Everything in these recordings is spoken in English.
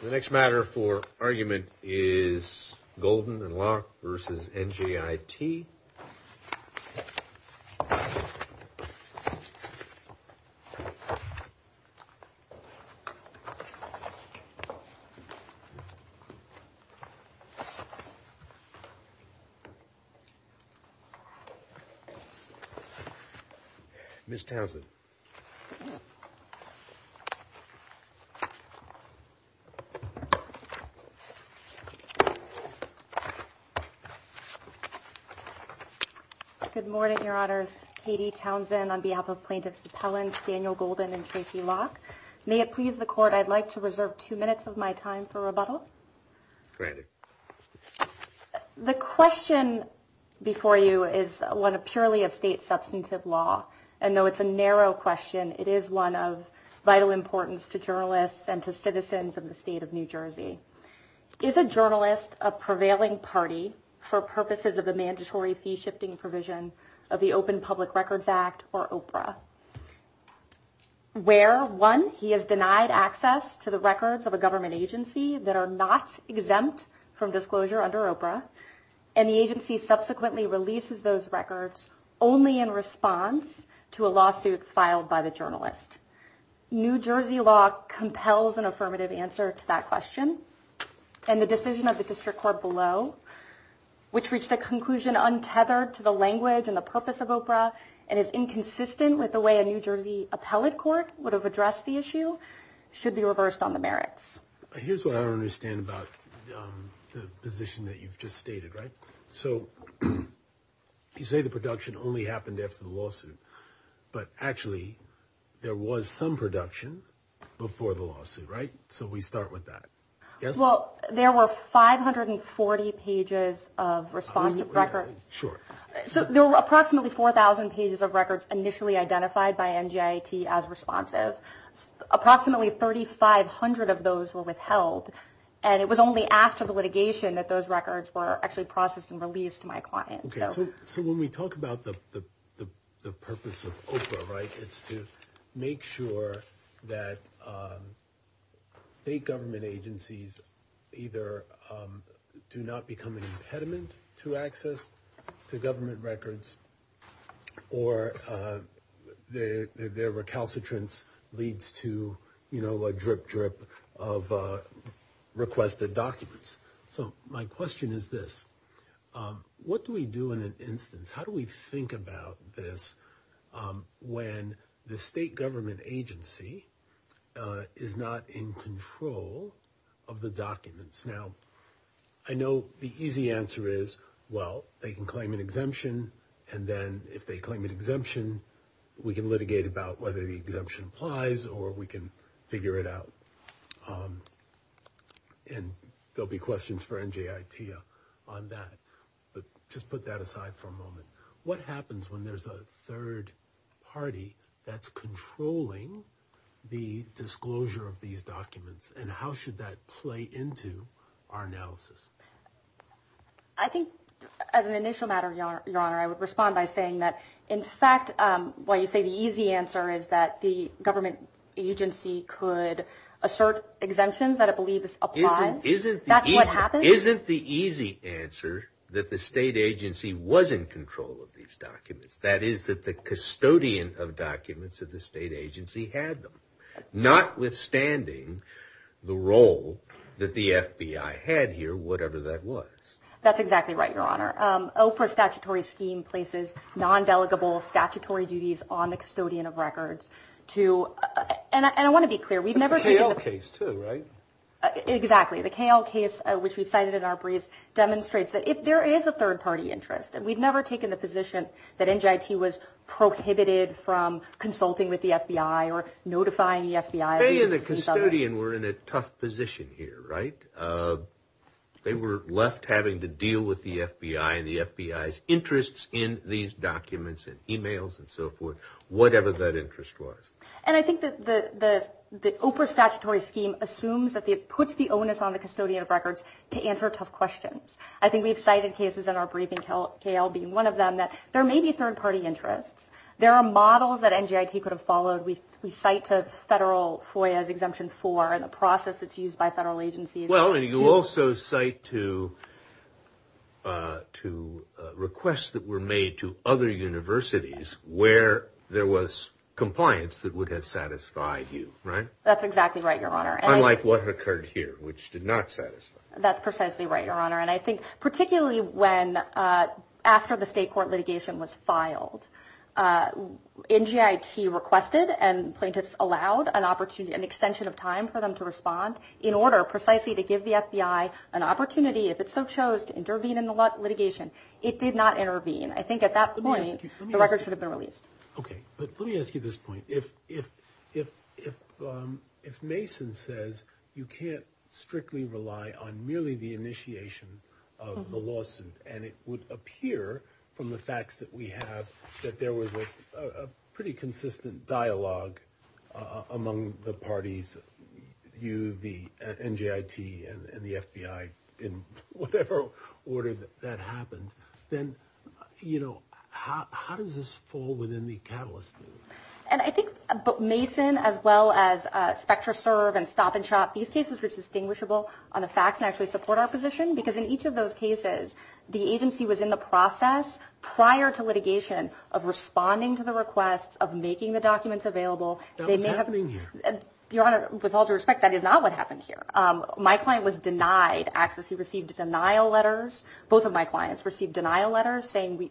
The next matter for argument is Golden and Locke v. NJIT. Ms. Townsend. Good morning, Your Honors. Katie Townsend on behalf of Plaintiffs Appellants Daniel Golden and Tracy Locke. May it please the court, I'd like to reserve two minutes of my time for rebuttal. The question before you is one purely of state substantive law and though it's a narrow question, it is one of vital importance to journalists and to citizens of the state of New Jersey. Is a journalist a prevailing party for purposes of the mandatory fee shifting provision of the Open Public Records Act or OPRA? Where one, he has denied access to the records of a government agency that are not exempt from disclosure under OPRA and the agency subsequently releases those records only in response to a lawsuit filed by the journalist. New Jersey law compels an affirmative answer to that question and the decision of the district court below, which reached a conclusion untethered to the language and the purpose of OPRA and is inconsistent with the way a New Jersey appellate court would have addressed the issue, should be reversed on the merits. Here's what I don't understand about the position that you've just stated, right? So you say the production only happened after the lawsuit, but actually there was some production before the lawsuit, right? So we start with that. Yes? Well, there were 540 pages of responsive record. Sure. So there were approximately 4000 pages of records initially identified by NJT as responsive. Approximately 3500 of those were withheld and it was only after the litigation that those records were actually processed and released to my client. So when we talk about the purpose of OPRA, right, it's to make sure that state government agencies either do not become an impediment to access to government records or their recalcitrance leads to, you know, a drip drip of requested documents. So my question is this, what do we do in an instance? How do we think about this when the state government agency is not in control of the documents? Now, I know the easy answer is, well, they can claim an exemption and then if they claim an exemption, we can litigate about whether the exemption applies or we can figure it out. And there'll be questions for NJIT on that, but just put that aside for a moment. What happens when there's a third party that's controlling the disclosure of these documents and how should that play into our analysis? I think as an initial matter, Your Honor, I would respond by saying that in fact, while you say the easy answer is that the government agency could assert exemptions that it believes applies, that's what happens? Isn't the easy answer that the state agency was in control of these documents, that is that the custodian of documents of the state agency had them, notwithstanding the role that the FBI had here, whatever that was? That's exactly right, Your Honor. OPRA statutory scheme places non-delegable statutory duties on the custodian of records to, and I want to be clear, we've never taken the... It's the KL case too, right? Exactly. The KL case, which we've cited in our briefs, demonstrates that if there is a third party interest and we've never taken the position that NJIT was prohibited from consulting with the FBI or notifying the FBI... The custodian were in a tough position here, right? They were left having to deal with the FBI and the FBI's interests in these documents and emails and so forth, whatever that interest was. And I think that the OPRA statutory scheme assumes that it puts the onus on the custodian of records to answer tough questions. I think we've cited cases in our briefing, KL being one of them, that there may be third party interests. There are models that NJIT could have followed. We cite to federal FOIA's Exemption 4 and the process that's used by federal agencies... Well, and you also cite to requests that were made to other universities where there was compliance that would have satisfied you, right? That's exactly right, Your Honor. Unlike what occurred here, which did not satisfy. That's precisely right, Your Honor. And I think particularly after the state court litigation was filed, NJIT requested and plaintiffs allowed an extension of time for them to respond in order precisely to give the FBI an opportunity, if it so chose, to intervene in the litigation. It did not intervene. I think at that point, the records should have been released. Okay. But let me ask you this point. If Mason says you can't strictly rely on merely the initiation of the lawsuit and it would appear from the facts that we have that there was a pretty consistent dialogue among the parties, you, the NJIT, and the FBI, in whatever order that happened, then, you know, how does this fall within the catalyst? And I think Mason, as well as SpectraServe and Stop and Shop, these cases were distinguishable on the facts and actually support our position because in each of those cases, the agency was in the process prior to litigation of responding to the requests of making the documents available. That was happening here. Your Honor, with all due respect, that is not what happened here. My client was denied access. He received denial letters. Both of my clients received denial letters saying,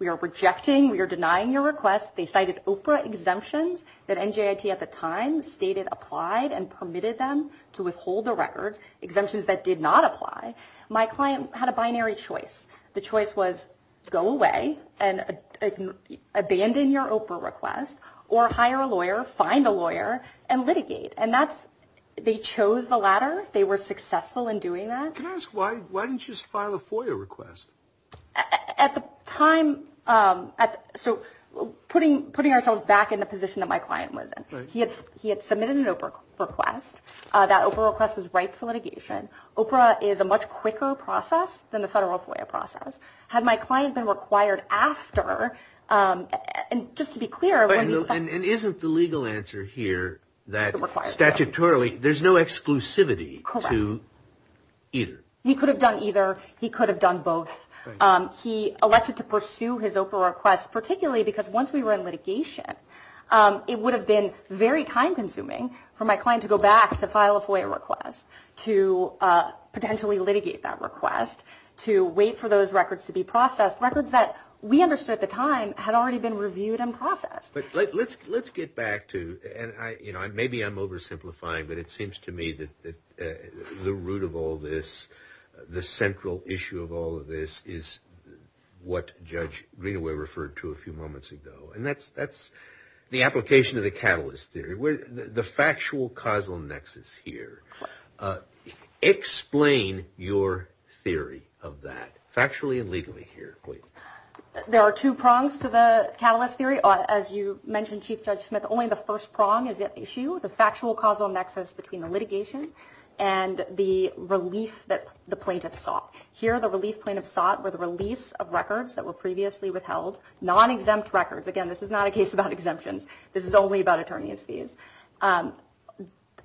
we are rejecting, we are denying your request. They cited OPRA exemptions that NJIT at the time stated applied and permitted them to withhold the records, exemptions that did not apply. My client had a binary choice. The choice was go away and abandon your OPRA request or hire a lawyer, find a lawyer, and litigate. And that's, they chose the latter. They were successful in doing that. Can I ask, why didn't you just file a FOIA request? At the time, so putting ourselves back in the position that my client was in. He had submitted an OPRA request. That OPRA request was ripe for litigation. OPRA is a much quicker process than the federal FOIA process. Had my client been required after, and just to be clear. And isn't the legal answer here that statutorily there's no exclusivity to either? He could have done either. He could have done both. He elected to pursue his OPRA request, particularly because once we were in litigation, it would have been very time consuming for my client to go back to file a FOIA request, to potentially litigate that request, to wait for those records to be processed. Records that we understood at the time had already been reviewed and processed. But let's get back to, and maybe I'm oversimplifying, but it seems to me that the root of all this, the central issue of all of this is what Judge Greenaway referred to a few moments ago. And that's the application of the catalyst theory. The factual causal nexus here. Explain your theory of that, factually and legally here, please. There are two prongs to the catalyst theory. As you mentioned, Chief Judge Smith, only the first prong is at issue, the factual causal nexus between the litigation and the relief that the plaintiff sought. Here, the relief plaintiff sought were the release of records that were previously withheld, non-exempt records. Again, this is not a case about exemptions. This is only about attorney's fees.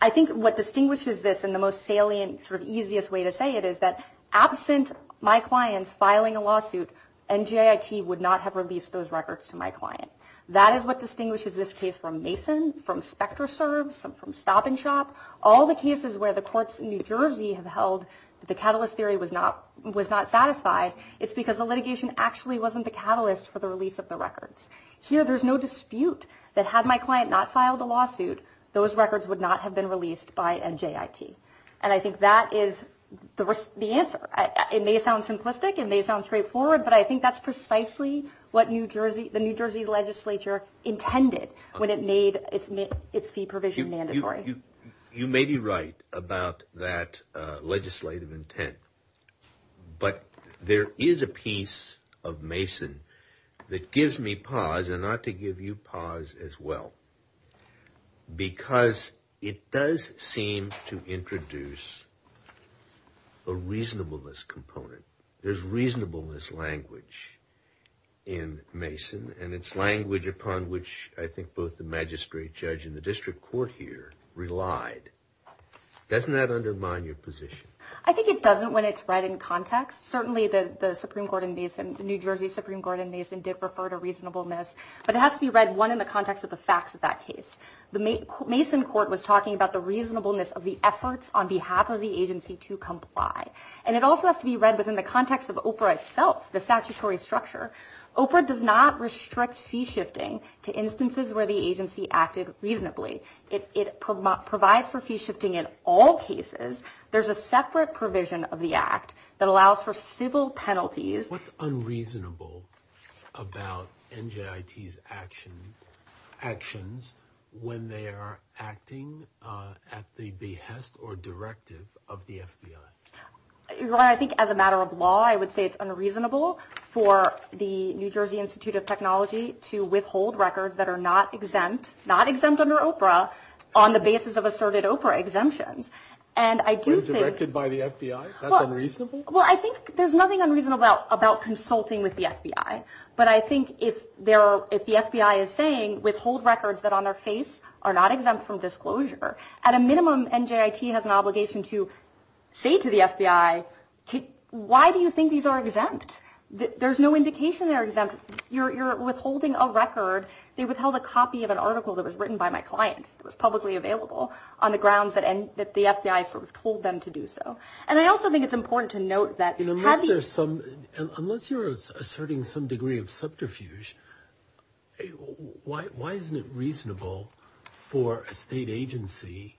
I think what distinguishes this in the most salient, sort of easiest way to say it is that absent my clients filing a lawsuit, NJIT would not have released those records to my client. That is what distinguishes this case from Mason, from SpectraServe, from Stop and Shop. All the cases where the courts in New Jersey have held that the catalyst theory was not satisfied, it's because the litigation actually wasn't the catalyst for the release of the records. Here, there's no dispute that had my client not filed a lawsuit, those records would not have been released by NJIT. And I think that is the answer. It may sound simplistic, it may sound straightforward, but I think that's precisely what the New Jersey legislature intended when it made its fee provision mandatory. You may be right about that legislative intent, but there is a piece of Mason that gives me pause, and ought to give you pause as well. Because it does seem to introduce a reasonableness component. There's reasonableness language in Mason, and it's language upon which I think both the magistrate judge and the district court here relied. Doesn't that undermine your position? I think it doesn't when it's read in context. Certainly, the New Jersey Supreme Court in Mason did refer to reasonableness, but it has to be read, one, in the context of the facts of that case. The Mason court was talking about the reasonableness of the efforts on behalf of the agency to comply. And it also has to be read within the context of OPRA itself, the statutory structure. OPRA does not restrict fee shifting to instances where the agency acted reasonably. It provides for fee shifting in all cases. There's a separate provision of the act that allows for civil penalties. What's unreasonable about NJIT's actions when they are acting at the behest or directive of the FBI? Well, I think as a matter of law, I would say it's unreasonable for the New Jersey Institute of Technology to withhold records that are not exempt, not exempt under OPRA, on the basis of asserted OPRA exemptions. Withdrawn by the FBI? That's unreasonable? Unless you're asserting some degree of subterfuge, why isn't it reasonable for a state agency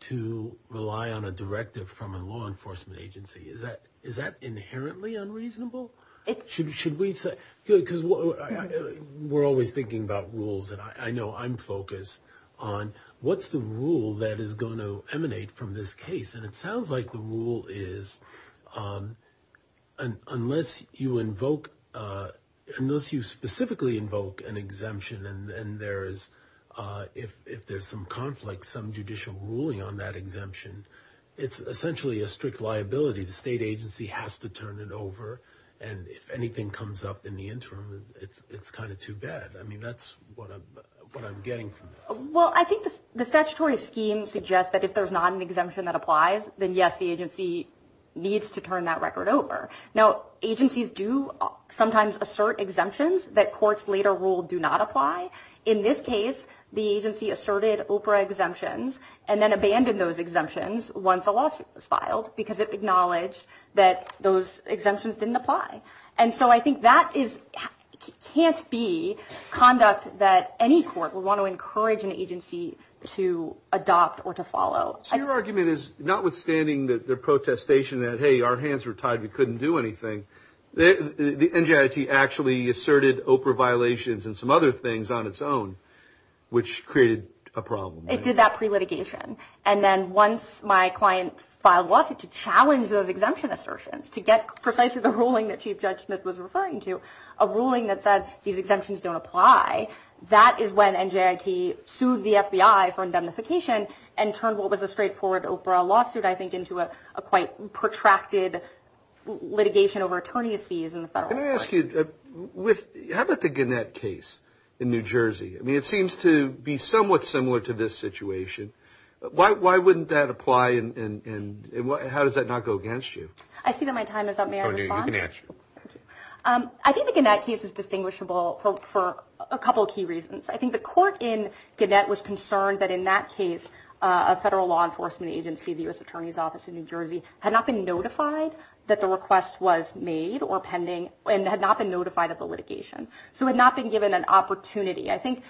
to rely on a directive from a law enforcement agency? Is that inherently unreasonable? Should we say, because we're always thinking about rules, and I know I'm focused on what's the rule that is going to emanate from this case? And it sounds like the rule is, unless you invoke, unless you specifically invoke an exemption and there is, if there's some conflict, some judicial ruling on that exemption, it's essentially a strict liability. The state agency has to turn it over, and if anything comes up in the interim, it's kind of too bad. I mean, that's what I'm getting from this. Well, I think the statutory scheme suggests that if there's not an exemption that applies, then yes, the agency needs to turn that record over. Now, agencies do sometimes assert exemptions that courts later ruled do not apply. In this case, the agency asserted OPRA exemptions and then abandoned those exemptions once a lawsuit was filed because it acknowledged that those exemptions didn't apply. And so I think that can't be conduct that any court would want to encourage an agency to adopt or to follow. Your argument is, notwithstanding the protestation that, hey, our hands were tied, we couldn't do anything, the NJIT actually asserted OPRA violations and some other things on its own, which created a problem. It did that pre-litigation, and then once my client filed a lawsuit to challenge those exemption assertions, to get precisely the ruling that Chief Judge Smith was referring to, a ruling that said these exemptions don't apply, that is when NJIT sued the FBI for indemnification and turned what was a straightforward OPRA lawsuit, I think, into a quite protracted litigation over attorney's fees in the federal court. Let me ask you, how about the Gannett case in New Jersey? I mean, it seems to be somewhat similar to this situation. Why wouldn't that apply, and how does that not go against you? I see that my time is up. May I respond? I think the Gannett case is distinguishable for a couple of key reasons. I think the court in Gannett was concerned that in that case, a federal law enforcement agency, the U.S. Attorney's Office in New Jersey, had not been notified that the request was made or pending and had not been notified of the litigation. So it had not been given an opportunity. I think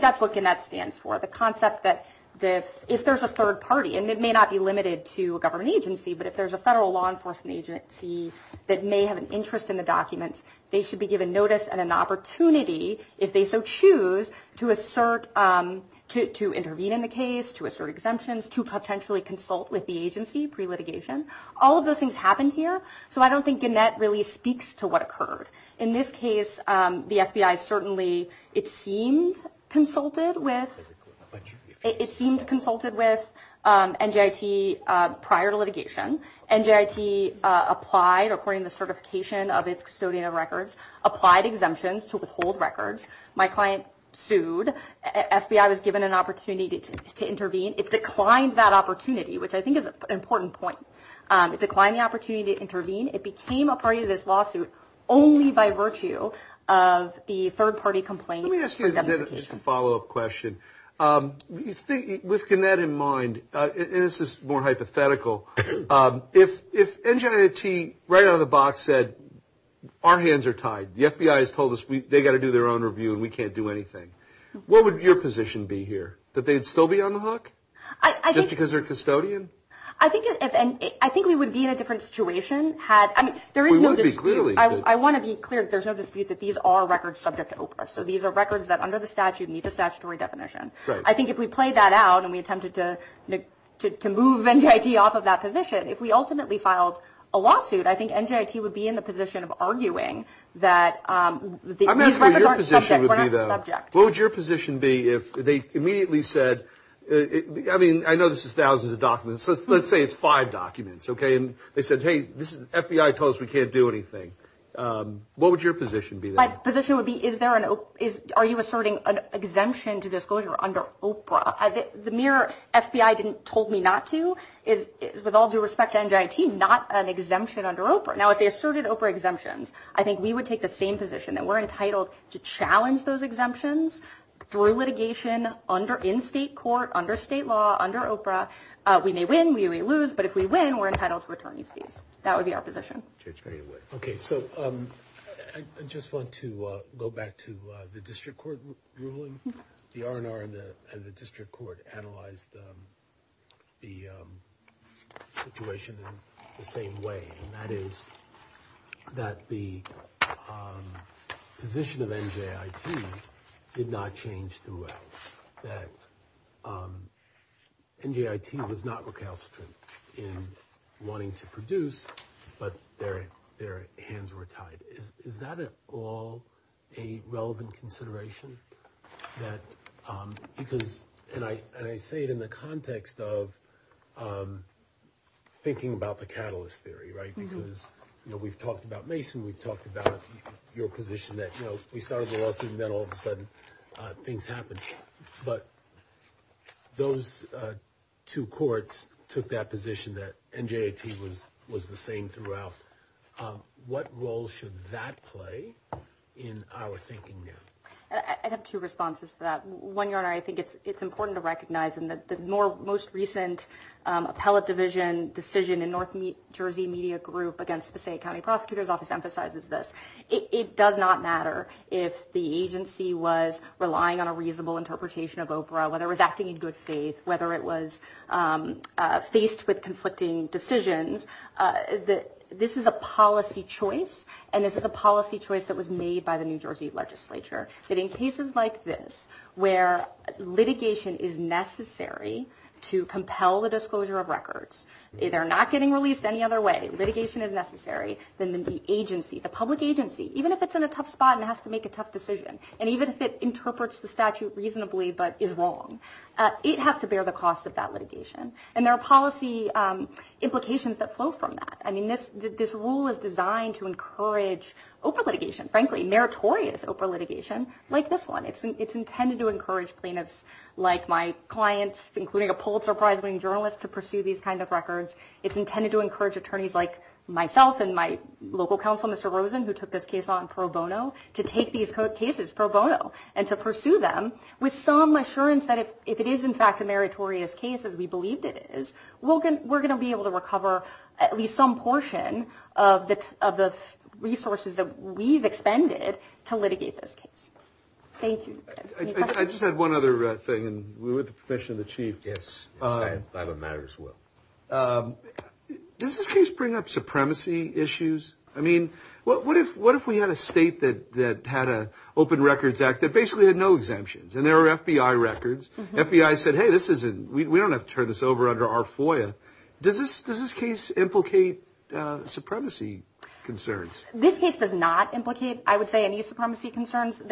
that's what Gannett stands for, the concept that if there's a third party, and it may not be limited to a government agency, but if there's a federal law enforcement agency that may have an interest in the documents, they should be given notice and an opportunity, if they so choose, to intervene in the case, to assert exemptions, to potentially consult with the agency pre-litigation. All of those things happened here, so I don't think Gannett really speaks to what occurred. In this case, the FBI certainly, it seemed consulted with NJIT prior to litigation. NJIT applied, according to the certification of its custodian of records, applied exemptions to withhold records. My client sued. FBI was given an opportunity to intervene. It declined that opportunity, which I think is an important point. It declined the opportunity to intervene. It became a part of this lawsuit only by virtue of the third party complaint. Let me ask you a follow-up question. With Gannett in mind, and this is more hypothetical, if NJIT right out of the box said, our hands are tied, the FBI has told us they've got to do their own review and we can't do anything, what would your position be here? That they'd still be on the hook, just because they're a custodian? I think we would be in a different situation had, I mean, there is no dispute. I want to be clear, there's no dispute that these are records subject to OPRS. So these are records that, under the statute, meet the statutory definition. I think if we played that out and we attempted to move NJIT off of that position, if we ultimately filed a lawsuit, I think NJIT would be in the position of arguing that these records aren't subject. What would your position be if they immediately said, I mean, I know this is thousands of documents, let's say it's five documents, okay, and they said, hey, this is, FBI told us we can't do anything. What would your position be there? My position would be, are you asserting an exemption to disclosure under OPRA? The mere FBI didn't told me not to is, with all due respect to NJIT, not an exemption under OPRA. Now, if they asserted OPRA exemptions, I think we would take the same position, that we're entitled to challenge those exemptions through litigation, in state court, under state law, under OPRA. We may win, we may lose, but if we win, we're entitled to attorney's fees. That would be our position. Okay, so I just want to go back to the district court ruling. The RNR and the district court analyzed the situation in the same way, and that is that the position of NJIT did not change throughout. The position of NJIT was that NJIT was not recalcitrant in wanting to produce, but their hands were tied. Is that at all a relevant consideration? And I say it in the context of thinking about the catalyst theory, right, because we've talked about Mason, we've talked about your position that we started the lawsuit and then all of a sudden things happened. But those two courts took that position that NJIT was the same throughout. What role should that play in our thinking now? I have two responses to that. One, Your Honor, I think it's important to recognize in the most recent appellate division decision in North Jersey Media Group against Passaic County Prosecutor's Office emphasizes this. It does not matter if the agency was relying on a reasonable interpretation of Oprah, whether it was acting in good faith, whether it was faced with conflicting decisions. This is a policy choice, and this is a policy choice that was made by the New Jersey legislature. In cases like this, where litigation is necessary to compel the disclosure of records, they're not getting released any other way, litigation is necessary, then the agency, the public agency, even if it's in a tough spot and has to make a tough decision, and even if it interprets the statute reasonably but is wrong, it has to bear the cost of that litigation. And there are policy implications that flow from that. This rule is designed to encourage Oprah litigation, frankly, meritorious Oprah litigation, like this one. It's intended to encourage plaintiffs like my clients, including a Pulitzer Prize winning journalist, to pursue these kind of records. It's intended to encourage attorneys like myself and my local counsel, Mr. Rosen, who took this case on pro bono, to take these cases pro bono and to pursue them with some assurance that if it is, in fact, a meritorious case, as we believed it is, we're going to be able to recover at least some portion of the resources that we've expended to litigate this case. Thank you. I just had one other thing, and we're with the profession of the chief. Yes, I have a matter as well. Does this case bring up supremacy issues? I mean, what if we had a state that had an Open Records Act that basically had no exemptions, and there were FBI records? FBI said, hey, we don't have to turn this over under our FOIA. Does this case implicate supremacy concerns? This case does not implicate, I would say, any supremacy concerns.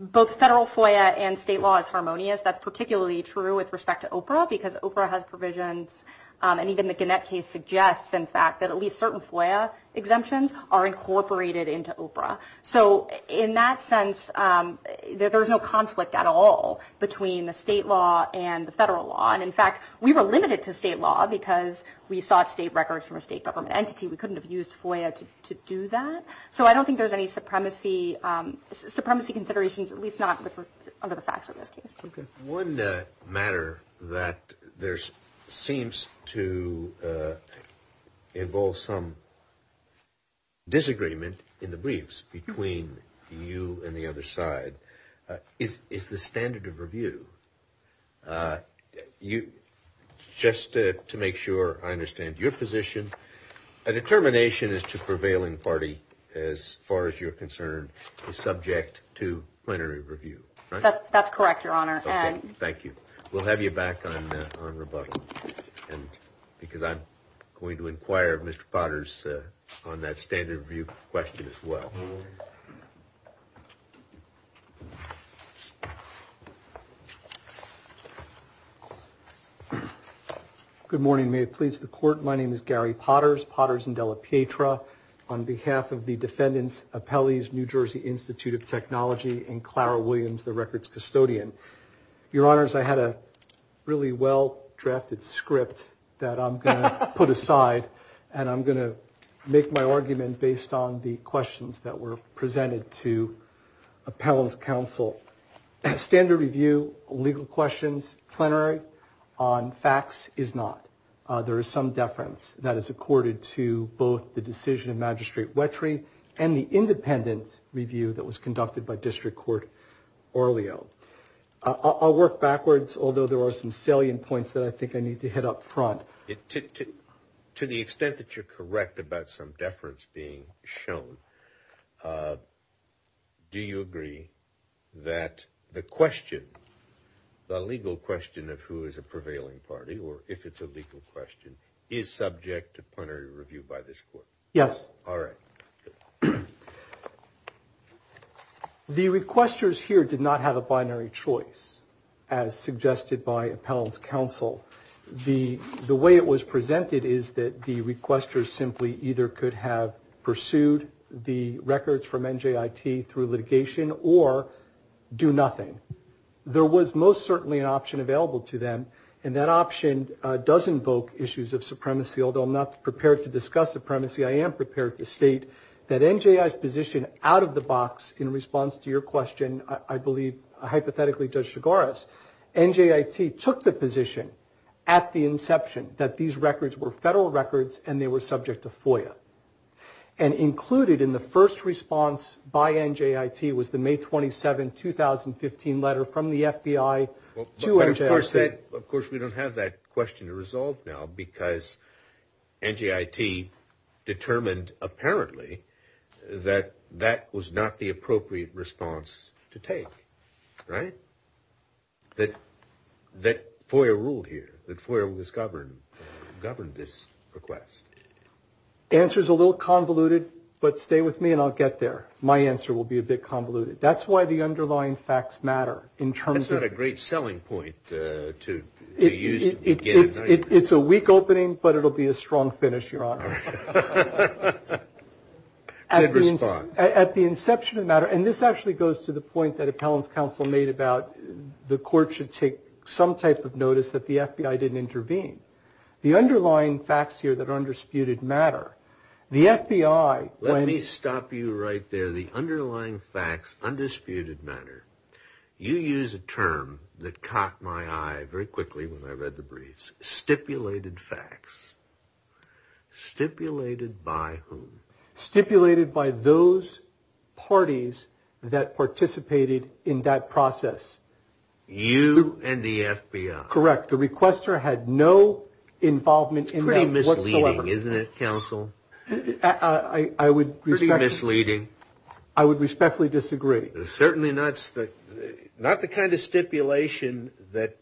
Both federal FOIA and state law is harmonious. That's particularly true with respect to OPRA because OPRA has provisions, and even the Gannett case suggests, in fact, that at least certain FOIA exemptions are incorporated into OPRA. So in that sense, there's no conflict at all between the state law and the federal law. And in fact, we were limited to state law because we sought state records from a state government entity. We couldn't have used FOIA to do that. So I don't think there's any supremacy considerations, at least not under the facts of this case. One matter that there seems to involve some disagreement in the briefs between you and the other side is the standard of review. Just to make sure I understand your position, a determination as to prevailing party, as far as you're concerned, is subject to plenary review, right? That's correct, Your Honor. Thank you. We'll have you back on rebuttal because I'm going to inquire of Mr. Potters on that standard of review question as well. Good morning. May it please the Court. My name is Gary Potters, Potters and Della Pietra. On behalf of the defendants, appellees, New Jersey Institute of Technology, and Clara Williams, the records custodian. Your Honors, I had a really well-drafted script that I'm going to put aside and I'm going to make my argument based on the questions that were presented to appellants' counsel. Standard review, legal questions, plenary on facts is not. There is some deference that is accorded to both the decision of Magistrate Wetry and the independent review that was conducted by District Court Orleo. I'll work backwards, although there are some salient points that I think I need to hit up front. To the extent that you're correct about some deference being shown, do you agree that the question, the legal question of who is a prevailing party, or if it's a legal question, is subject to plenary review by this Court? Yes. All right. The requesters here did not have a binary choice, as suggested by appellants' counsel. The way it was presented is that the requesters simply either could have pursued the records from NJIT through litigation or do nothing. There was most certainly an option available to them, and that option does invoke issues of supremacy. Although I'm not prepared to discuss supremacy, I am prepared to state that NJIT's position out of the box in response to your question, I believe hypothetically Judge Chigoris, NJIT took the position at the inception that these records were federal records and they were subject to FOIA. And included in the first response by NJIT was the May 27, 2015 letter from the FBI to NJIT. Of course, we don't have that question to resolve now because NJIT determined apparently that that was not the appropriate response to take, right? That FOIA ruled here, that FOIA was governed, governed this request. The answer's a little convoluted, but stay with me and I'll get there. My answer will be a bit convoluted. That's why the underlying facts matter in terms of – It's a weak opening, but it'll be a strong finish, Your Honor. Good response. At the inception of the matter – and this actually goes to the point that Appellant's counsel made about the court should take some type of notice that the FBI didn't intervene. The underlying facts here that are undisputed matter. The FBI – Let me stop you right there. You use a term that caught my eye very quickly when I read the briefs. Stipulated facts. Stipulated by whom? Stipulated by those parties that participated in that process. You and the FBI. Correct. The requester had no involvement in that whatsoever. It's pretty misleading, isn't it, counsel? I would – Pretty misleading. I would respectfully disagree. Certainly not the kind of stipulation that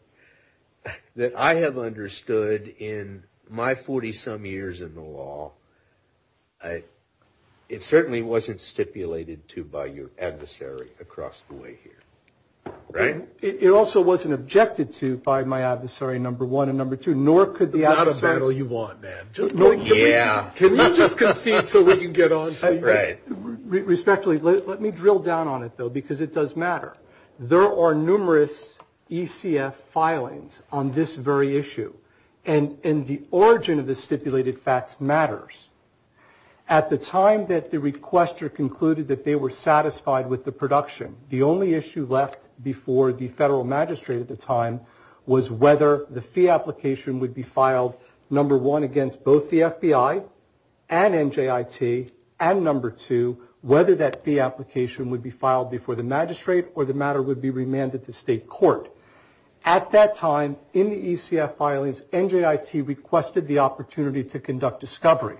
I have understood in my 40-some years in the law. It certainly wasn't stipulated to by your adversary across the way here. Right? It also wasn't objected to by my adversary, number one, and number two, nor could the – The battle you want, man. Yeah. Can you just concede to what you get on? Right. Respectfully, let me drill down on it, though, because it does matter. There are numerous ECF filings on this very issue, and the origin of the stipulated facts matters. At the time that the requester concluded that they were satisfied with the production, the only issue left before the federal magistrate at the time was whether the fee application would be filed, number one, against both the FBI and NJIT, and number two, whether that fee application would be filed before the magistrate or the matter would be remanded to state court. At that time, in the ECF filings, NJIT requested the opportunity to conduct discovery.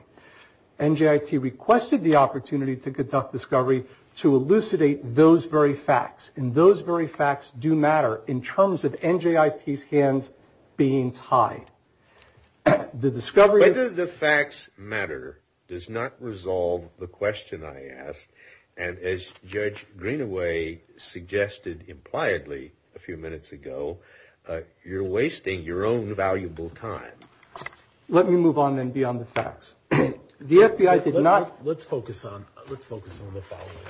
NJIT requested the opportunity to conduct discovery to elucidate those very facts, and those very facts do matter in terms of NJIT's hands being tied. The discovery of the facts matter does not resolve the question I asked, and as Judge Greenaway suggested impliedly a few minutes ago, you're wasting your own valuable time. Let me move on then beyond the facts. The FBI did not – Let's focus on the following.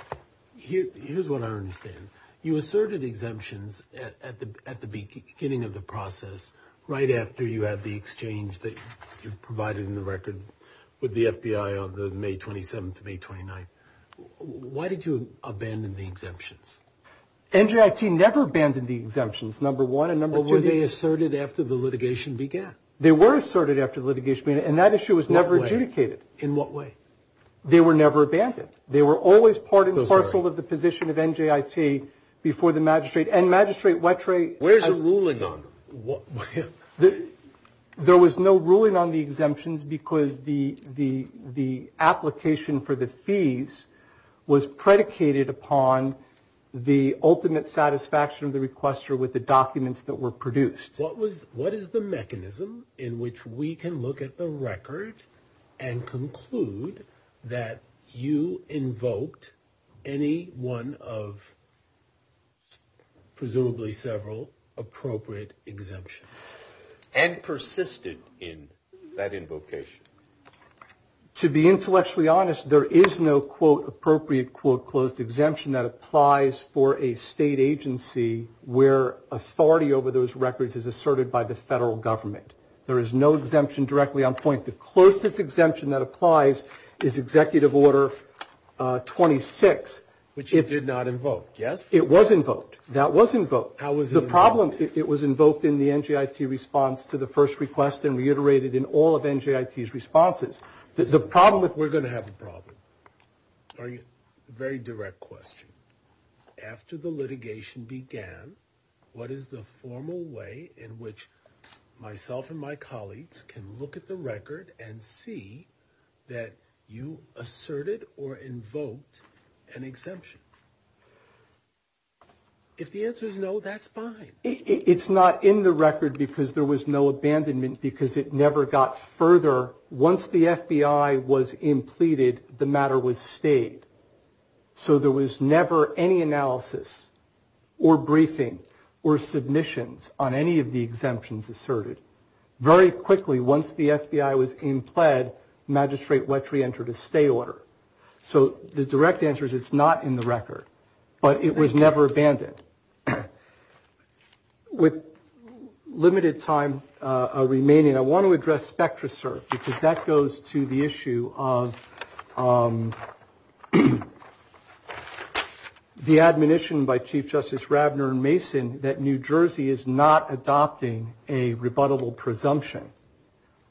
Here's what I understand. You asserted exemptions at the beginning of the process right after you had the exchange that you provided in the record with the FBI on May 27th, May 29th. Why did you abandon the exemptions? NJIT never abandoned the exemptions, number one, and number two – But were they asserted after the litigation began? They were asserted after the litigation began, and that issue was never adjudicated. In what way? They were never abandoned. They were always part and parcel of the position of NJIT before the magistrate. And Magistrate Wettre – Where's the ruling on them? There was no ruling on the exemptions because the application for the fees was predicated upon the ultimate satisfaction of the requester with the documents that were produced. What was – what is the mechanism in which we can look at the record and conclude that you invoked any one of presumably several appropriate exemptions? And persisted in that invocation. To be intellectually honest, there is no, quote, appropriate, quote, that applies for a state agency where authority over those records is asserted by the federal government. There is no exemption directly on point. The closest exemption that applies is Executive Order 26. Which it did not invoke, yes? It was invoked. That was invoked. How was it invoked? The problem – it was invoked in the NJIT response to the first request and reiterated in all of NJIT's responses. The problem – We're going to have a problem. A very direct question. After the litigation began, what is the formal way in which myself and my colleagues can look at the record and see that you asserted or invoked an exemption? If the answer is no, that's fine. It's not in the record because there was no abandonment because it never got further. Once the FBI was impleted, the matter was stayed. So there was never any analysis or briefing or submissions on any of the exemptions asserted. Very quickly, once the FBI was impled, Magistrate Wetry entered a stay order. So the direct answer is it's not in the record, but it was never abandoned. With limited time remaining, I want to address SpectraSERB because that goes to the issue of the admonition by Chief Justice Rabner and Mason that New Jersey is not adopting a rebuttable presumption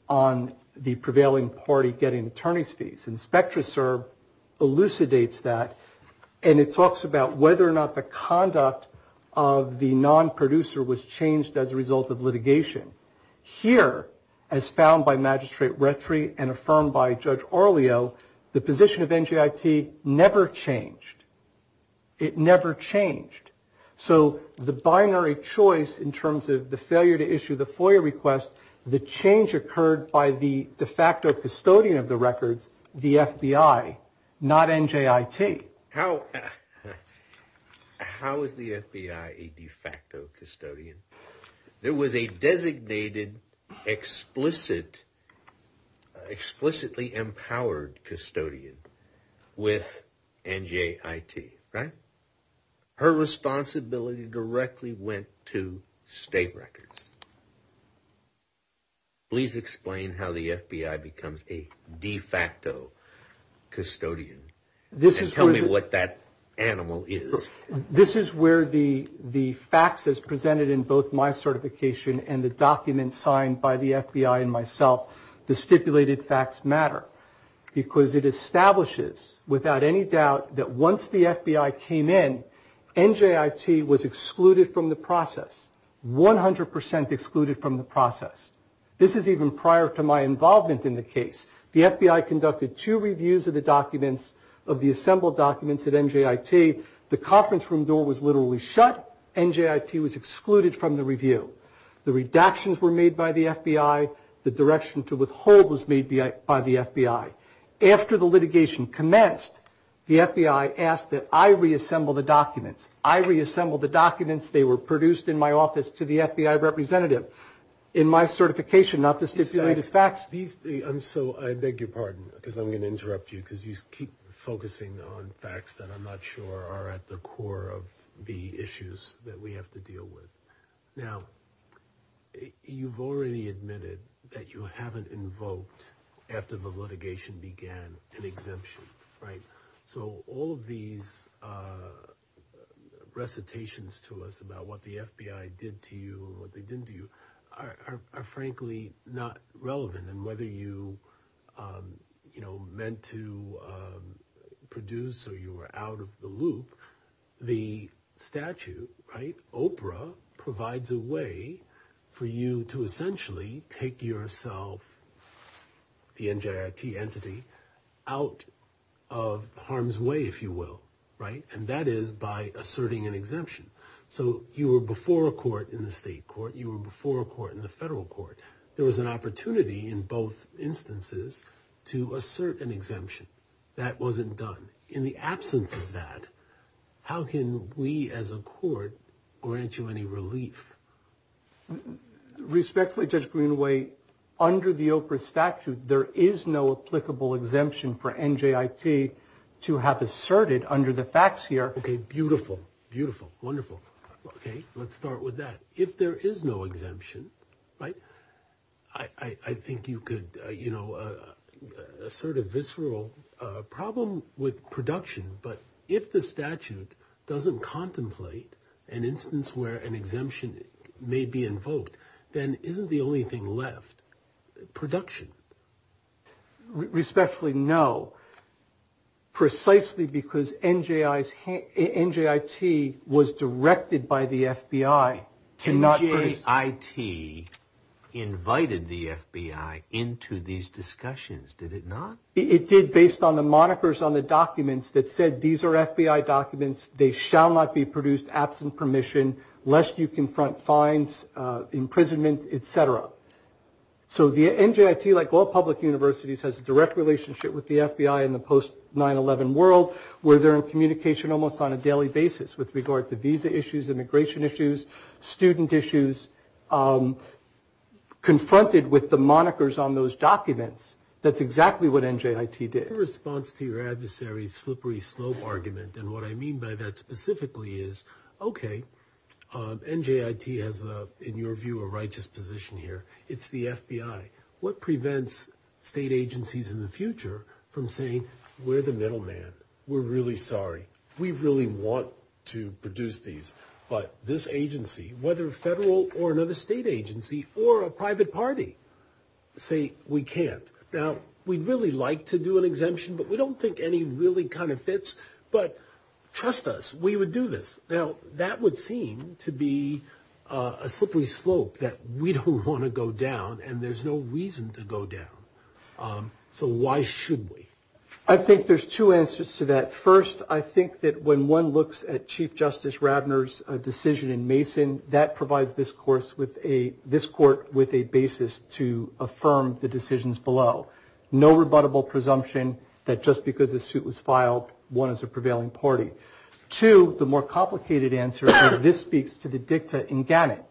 on the prevailing party getting attorney's fees. And SpectraSERB elucidates that. And it talks about whether or not the conduct of the nonproducer was changed as a result of litigation. Here, as found by Magistrate Wetry and affirmed by Judge Orleo, the position of NGIT never changed. It never changed. So the binary choice in terms of the failure to issue the FOIA request, the change occurred by the de facto custodian of the records, the FBI, not NGIT. How is the FBI a de facto custodian? There was a designated, explicitly empowered custodian with NGIT, right? Her responsibility directly went to state records. Please explain how the FBI becomes a de facto custodian and tell me what that animal is. This is where the facts as presented in both my certification and the documents signed by the FBI and myself, the stipulated facts matter because it establishes without any doubt that once the FBI came in, NGIT was excluded from the process, 100% excluded from the process. This is even prior to my involvement in the case. The FBI conducted two reviews of the documents, of the assembled documents at NGIT. The conference room door was literally shut. NGIT was excluded from the review. The redactions were made by the FBI. The direction to withhold was made by the FBI. After the litigation commenced, the FBI asked that I reassemble the documents. I reassembled the documents. They were produced in my office to the FBI representative in my certification, not the stipulated facts. So I beg your pardon because I'm going to interrupt you because you keep focusing on facts that I'm not sure are at the core of the issues that we have to deal with. Now, you've already admitted that you haven't invoked, after the litigation began, an exemption, right? So all of these recitations to us about what the FBI did to you or what they didn't do are frankly not relevant. And whether you meant to produce or you were out of the loop, the statute, right, OPRA, provides a way for you to essentially take yourself, the NGIT entity, out of harm's way, if you will, right? And that is by asserting an exemption. So you were before a court in the state court. You were before a court in the federal court. There was an opportunity in both instances to assert an exemption. That wasn't done. In the absence of that, how can we as a court grant you any relief? Respectfully, Judge Greenaway, under the OPRA statute, there is no applicable exemption for NGIT to have asserted under the facts here. Okay, beautiful, beautiful, wonderful. Okay, let's start with that. If there is no exemption, right, I think you could, you know, assert a visceral problem with production. But if the statute doesn't contemplate an instance where an exemption may be invoked, then isn't the only thing left production? Respectfully, no. Precisely because NGIT was directed by the FBI to not produce. NGIT invited the FBI into these discussions, did it not? It did based on the monikers on the documents that said these are FBI documents. They shall not be produced absent permission lest you confront fines, imprisonment, et cetera. So the NGIT, like all public universities, has a direct relationship with the FBI in the post-9-11 world where they're in communication almost on a daily basis with regard to visa issues, immigration issues, student issues, confronted with the monikers on those documents. That's exactly what NGIT did. In response to your adversary's slippery slope argument, and what I mean by that specifically is, okay, NGIT has, in your view, a righteous position here. It's the FBI. What prevents state agencies in the future from saying, we're the middle man. We're really sorry. We really want to produce these. But this agency, whether federal or another state agency or a private party, say we can't. Now, we'd really like to do an exemption, but we don't think any really kind of fits. But trust us, we would do this. Now, that would seem to be a slippery slope that we don't want to go down, and there's no reason to go down. So why should we? I think there's two answers to that. First, I think that when one looks at Chief Justice Ravner's decision in Mason, that provides this court with a basis to affirm the decisions below. No rebuttable presumption that just because a suit was filed, one is a prevailing party. Two, the more complicated answer, and this speaks to the dicta in GANET,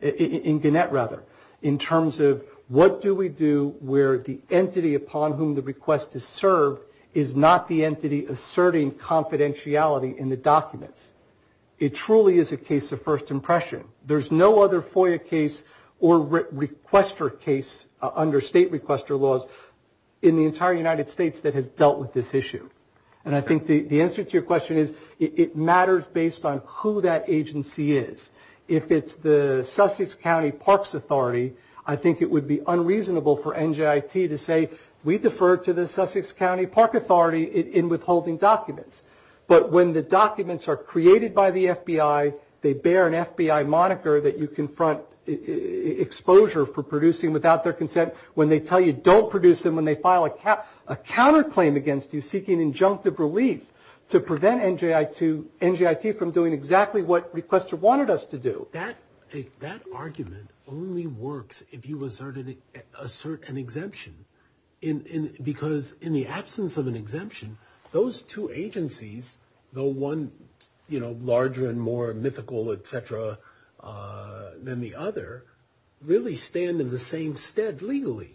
in GANET rather, in terms of what do we do where the entity upon whom the request is served is not the entity asserting confidentiality in the documents. It truly is a case of first impression. There's no other FOIA case or requester case under state requester laws in the entire United States that has dealt with this issue. And I think the answer to your question is it matters based on who that agency is. If it's the Sussex County Parks Authority, I think it would be unreasonable for NJIT to say, we defer to the Sussex County Park Authority in withholding documents. But when the documents are created by the FBI, they bear an FBI moniker that you confront exposure for producing without their consent when they tell you don't produce them, when they file a counterclaim against you seeking injunctive relief to prevent NJIT from doing exactly what requester wanted us to do. That argument only works if you assert an exemption, because in the absence of an exemption, those two agencies, though one larger and more mythical, et cetera, than the other, really stand in the same stead legally.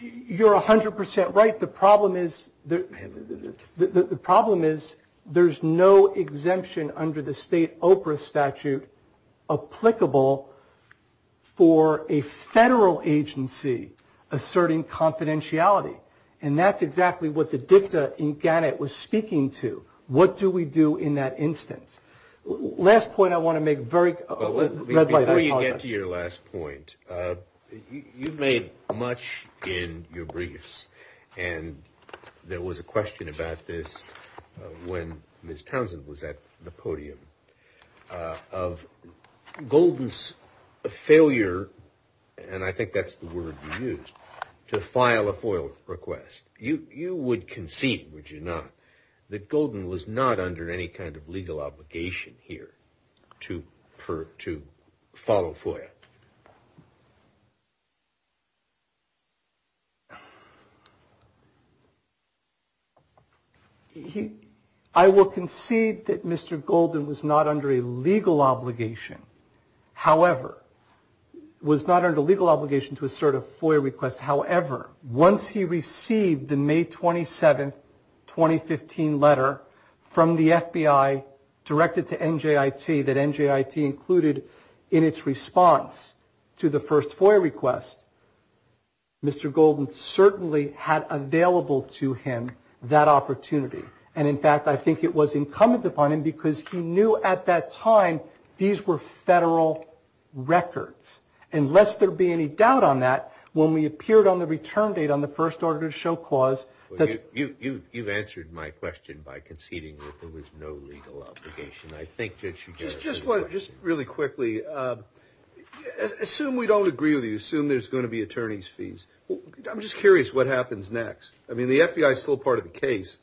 You're 100% right. I think the problem is there's no exemption under the state OPRA statute applicable for a federal agency asserting confidentiality. And that's exactly what the dicta in Gannett was speaking to. What do we do in that instance? Last point I want to make. Before you get to your last point, you've made much in your briefs, and there was a question about this when Ms. Townsend was at the podium, of Golden's failure, and I think that's the word you used, to file a FOIA request. You would concede, would you not, that Golden was not under any kind of legal obligation here to follow FOIA? I will concede that Mr. Golden was not under a legal obligation, however, was not under legal obligation to assert a FOIA request, however, once he received the May 27, 2015 letter from the FBI directed to NJIT, that NJIT included in its response to the first FOIA request, Mr. Golden certainly had available to him that opportunity. And, in fact, I think it was incumbent upon him because he knew at that time these were federal records. And lest there be any doubt on that, when we appeared on the return date on the first order to show clause. You've answered my question by conceding that there was no legal obligation. Just really quickly, assume we don't agree with you. Assume there's going to be attorney's fees. I'm just curious what happens next. I mean, the FBI is still part of the case.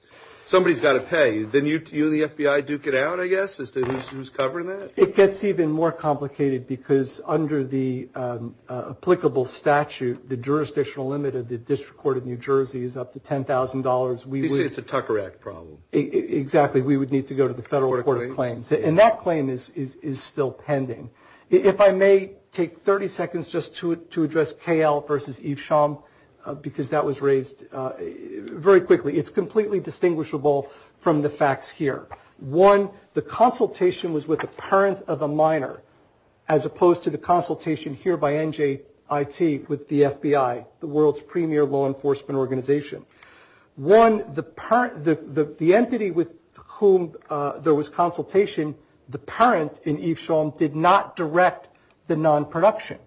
Somebody's got to pay. Then you and the FBI duke it out, I guess, as to who's covering that? It gets even more complicated because under the applicable statute, the jurisdictional limit of the District Court of New Jersey is up to $10,000. You say it's a Tucker Act problem. Exactly. We would need to go to the Federal Court of Claims. And that claim is still pending. If I may take 30 seconds just to address K.L. versus Eve Schaum, because that was raised very quickly. It's completely distinguishable from the facts here. One, the consultation was with a parent of a minor, as opposed to the consultation here by NJIT with the FBI, the world's premier law enforcement organization. One, the entity with whom there was consultation, the parent in Eve Schaum did not direct the non-production.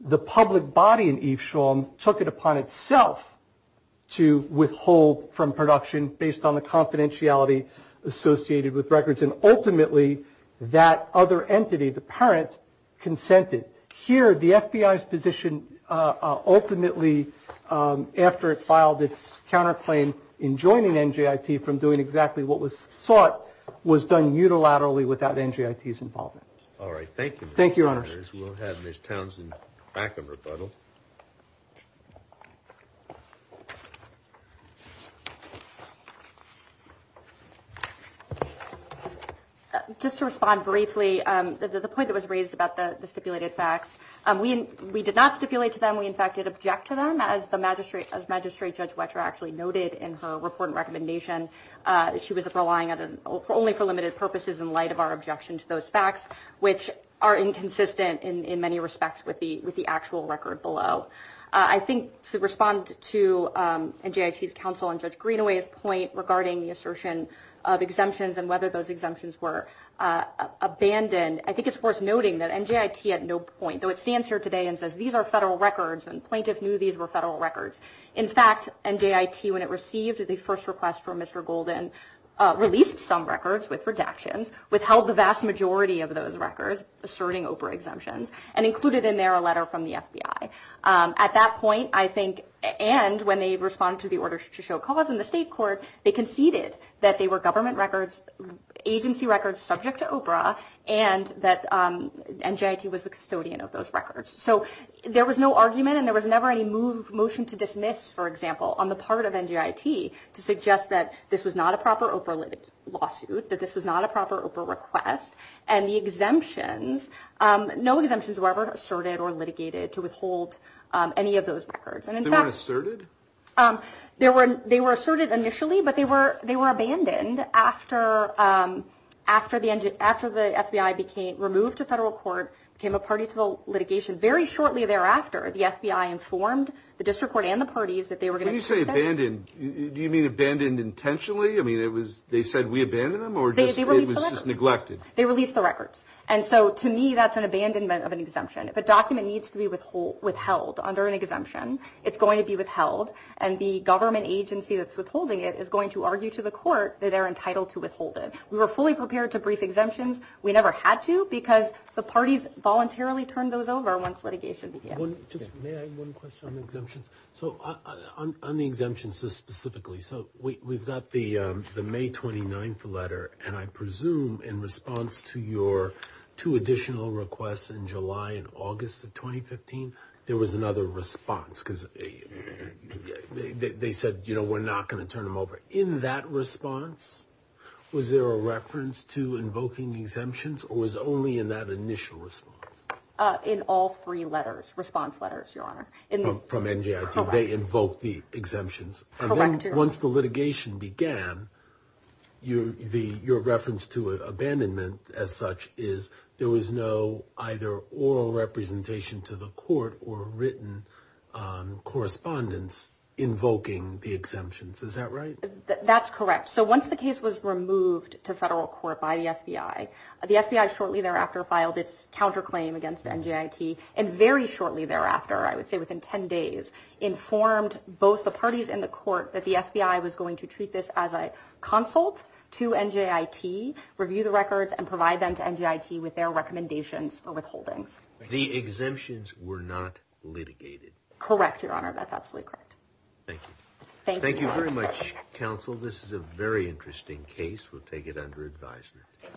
The public body in Eve Schaum took it upon itself to withhold from production based on the confidentiality associated with records. And ultimately, that other entity, the parent, consented. Here, the FBI's position ultimately, after it filed its counterclaim in joining NJIT from doing exactly what was sought, was done unilaterally without NJIT's involvement. Thank you, Your Honors. We'll have Ms. Townsend back in rebuttal. Just to respond briefly, the point that was raised about the stipulated facts, we did not stipulate to them. We, in fact, did object to them. As Magistrate Judge Wetterer actually noted in her report and recommendation, she was relying only for limited purposes in light of our objection to those facts, which are inconsistent in many respects with the actual record below. I think to respond to NJIT's counsel and Judge Greenaway's point regarding the assertion of exemptions and whether those exemptions were abandoned, I think it's worth noting that NJIT at no point, though it stands here today and says these are federal records and plaintiff knew these were federal records. In fact, NJIT, when it received the first request from Mr. Golden, released some records with redactions, withheld the vast majority of those records asserting OPRA exemptions and included in there a letter from the FBI. At that point, I think, and when they responded to the order to show cause in the state court, they conceded that they were government records, agency records subject to OPRA and that NJIT was the custodian of those records. So there was no argument and there was never any motion to dismiss, for example, on the part of NJIT to suggest that this was not a proper OPRA lawsuit, that this was not a proper OPRA request, and the exemptions, no exemptions were ever asserted or litigated to withhold any of those records. They weren't asserted? They were asserted initially, but they were abandoned after the FBI became, removed to federal court, became a party to the litigation. Very shortly thereafter, the FBI informed the district court and the parties that they were going to When you say abandoned, do you mean abandoned intentionally? I mean, they said we abandoned them or it was just neglected? They released the records. And so to me, that's an abandonment of an exemption. If a document needs to be withheld under an exemption, it's going to be withheld, and the government agency that's withholding it is going to argue to the court that they're entitled to withhold it. We were fully prepared to brief exemptions. We never had to because the parties voluntarily turned those over once litigation began. May I have one question on exemptions? So on the exemptions specifically, so we've got the May 29th letter, and I presume in response to your two additional requests in July and August of 2015, there was another response because they said, you know, we're not going to turn them over. In that response, was there a reference to invoking exemptions or was only in that initial response? In all three letters, response letters, Your Honor. From NJIT. Correct. They invoked the exemptions. Correct. Once the litigation began, your reference to abandonment as such is there was no either oral representation to the court or written correspondence invoking the exemptions. Is that right? That's correct. So once the case was removed to federal court by the FBI, the FBI shortly thereafter filed its counterclaim against NJIT, and very shortly thereafter, I would say within 10 days, informed both the parties in the court that the FBI was going to treat this as a consult to NJIT, review the records, and provide them to NJIT with their recommendations for withholdings. The exemptions were not litigated. Correct, Your Honor. That's absolutely correct. Thank you. Thank you very much, counsel. This is a very interesting case. We'll take it under advisement.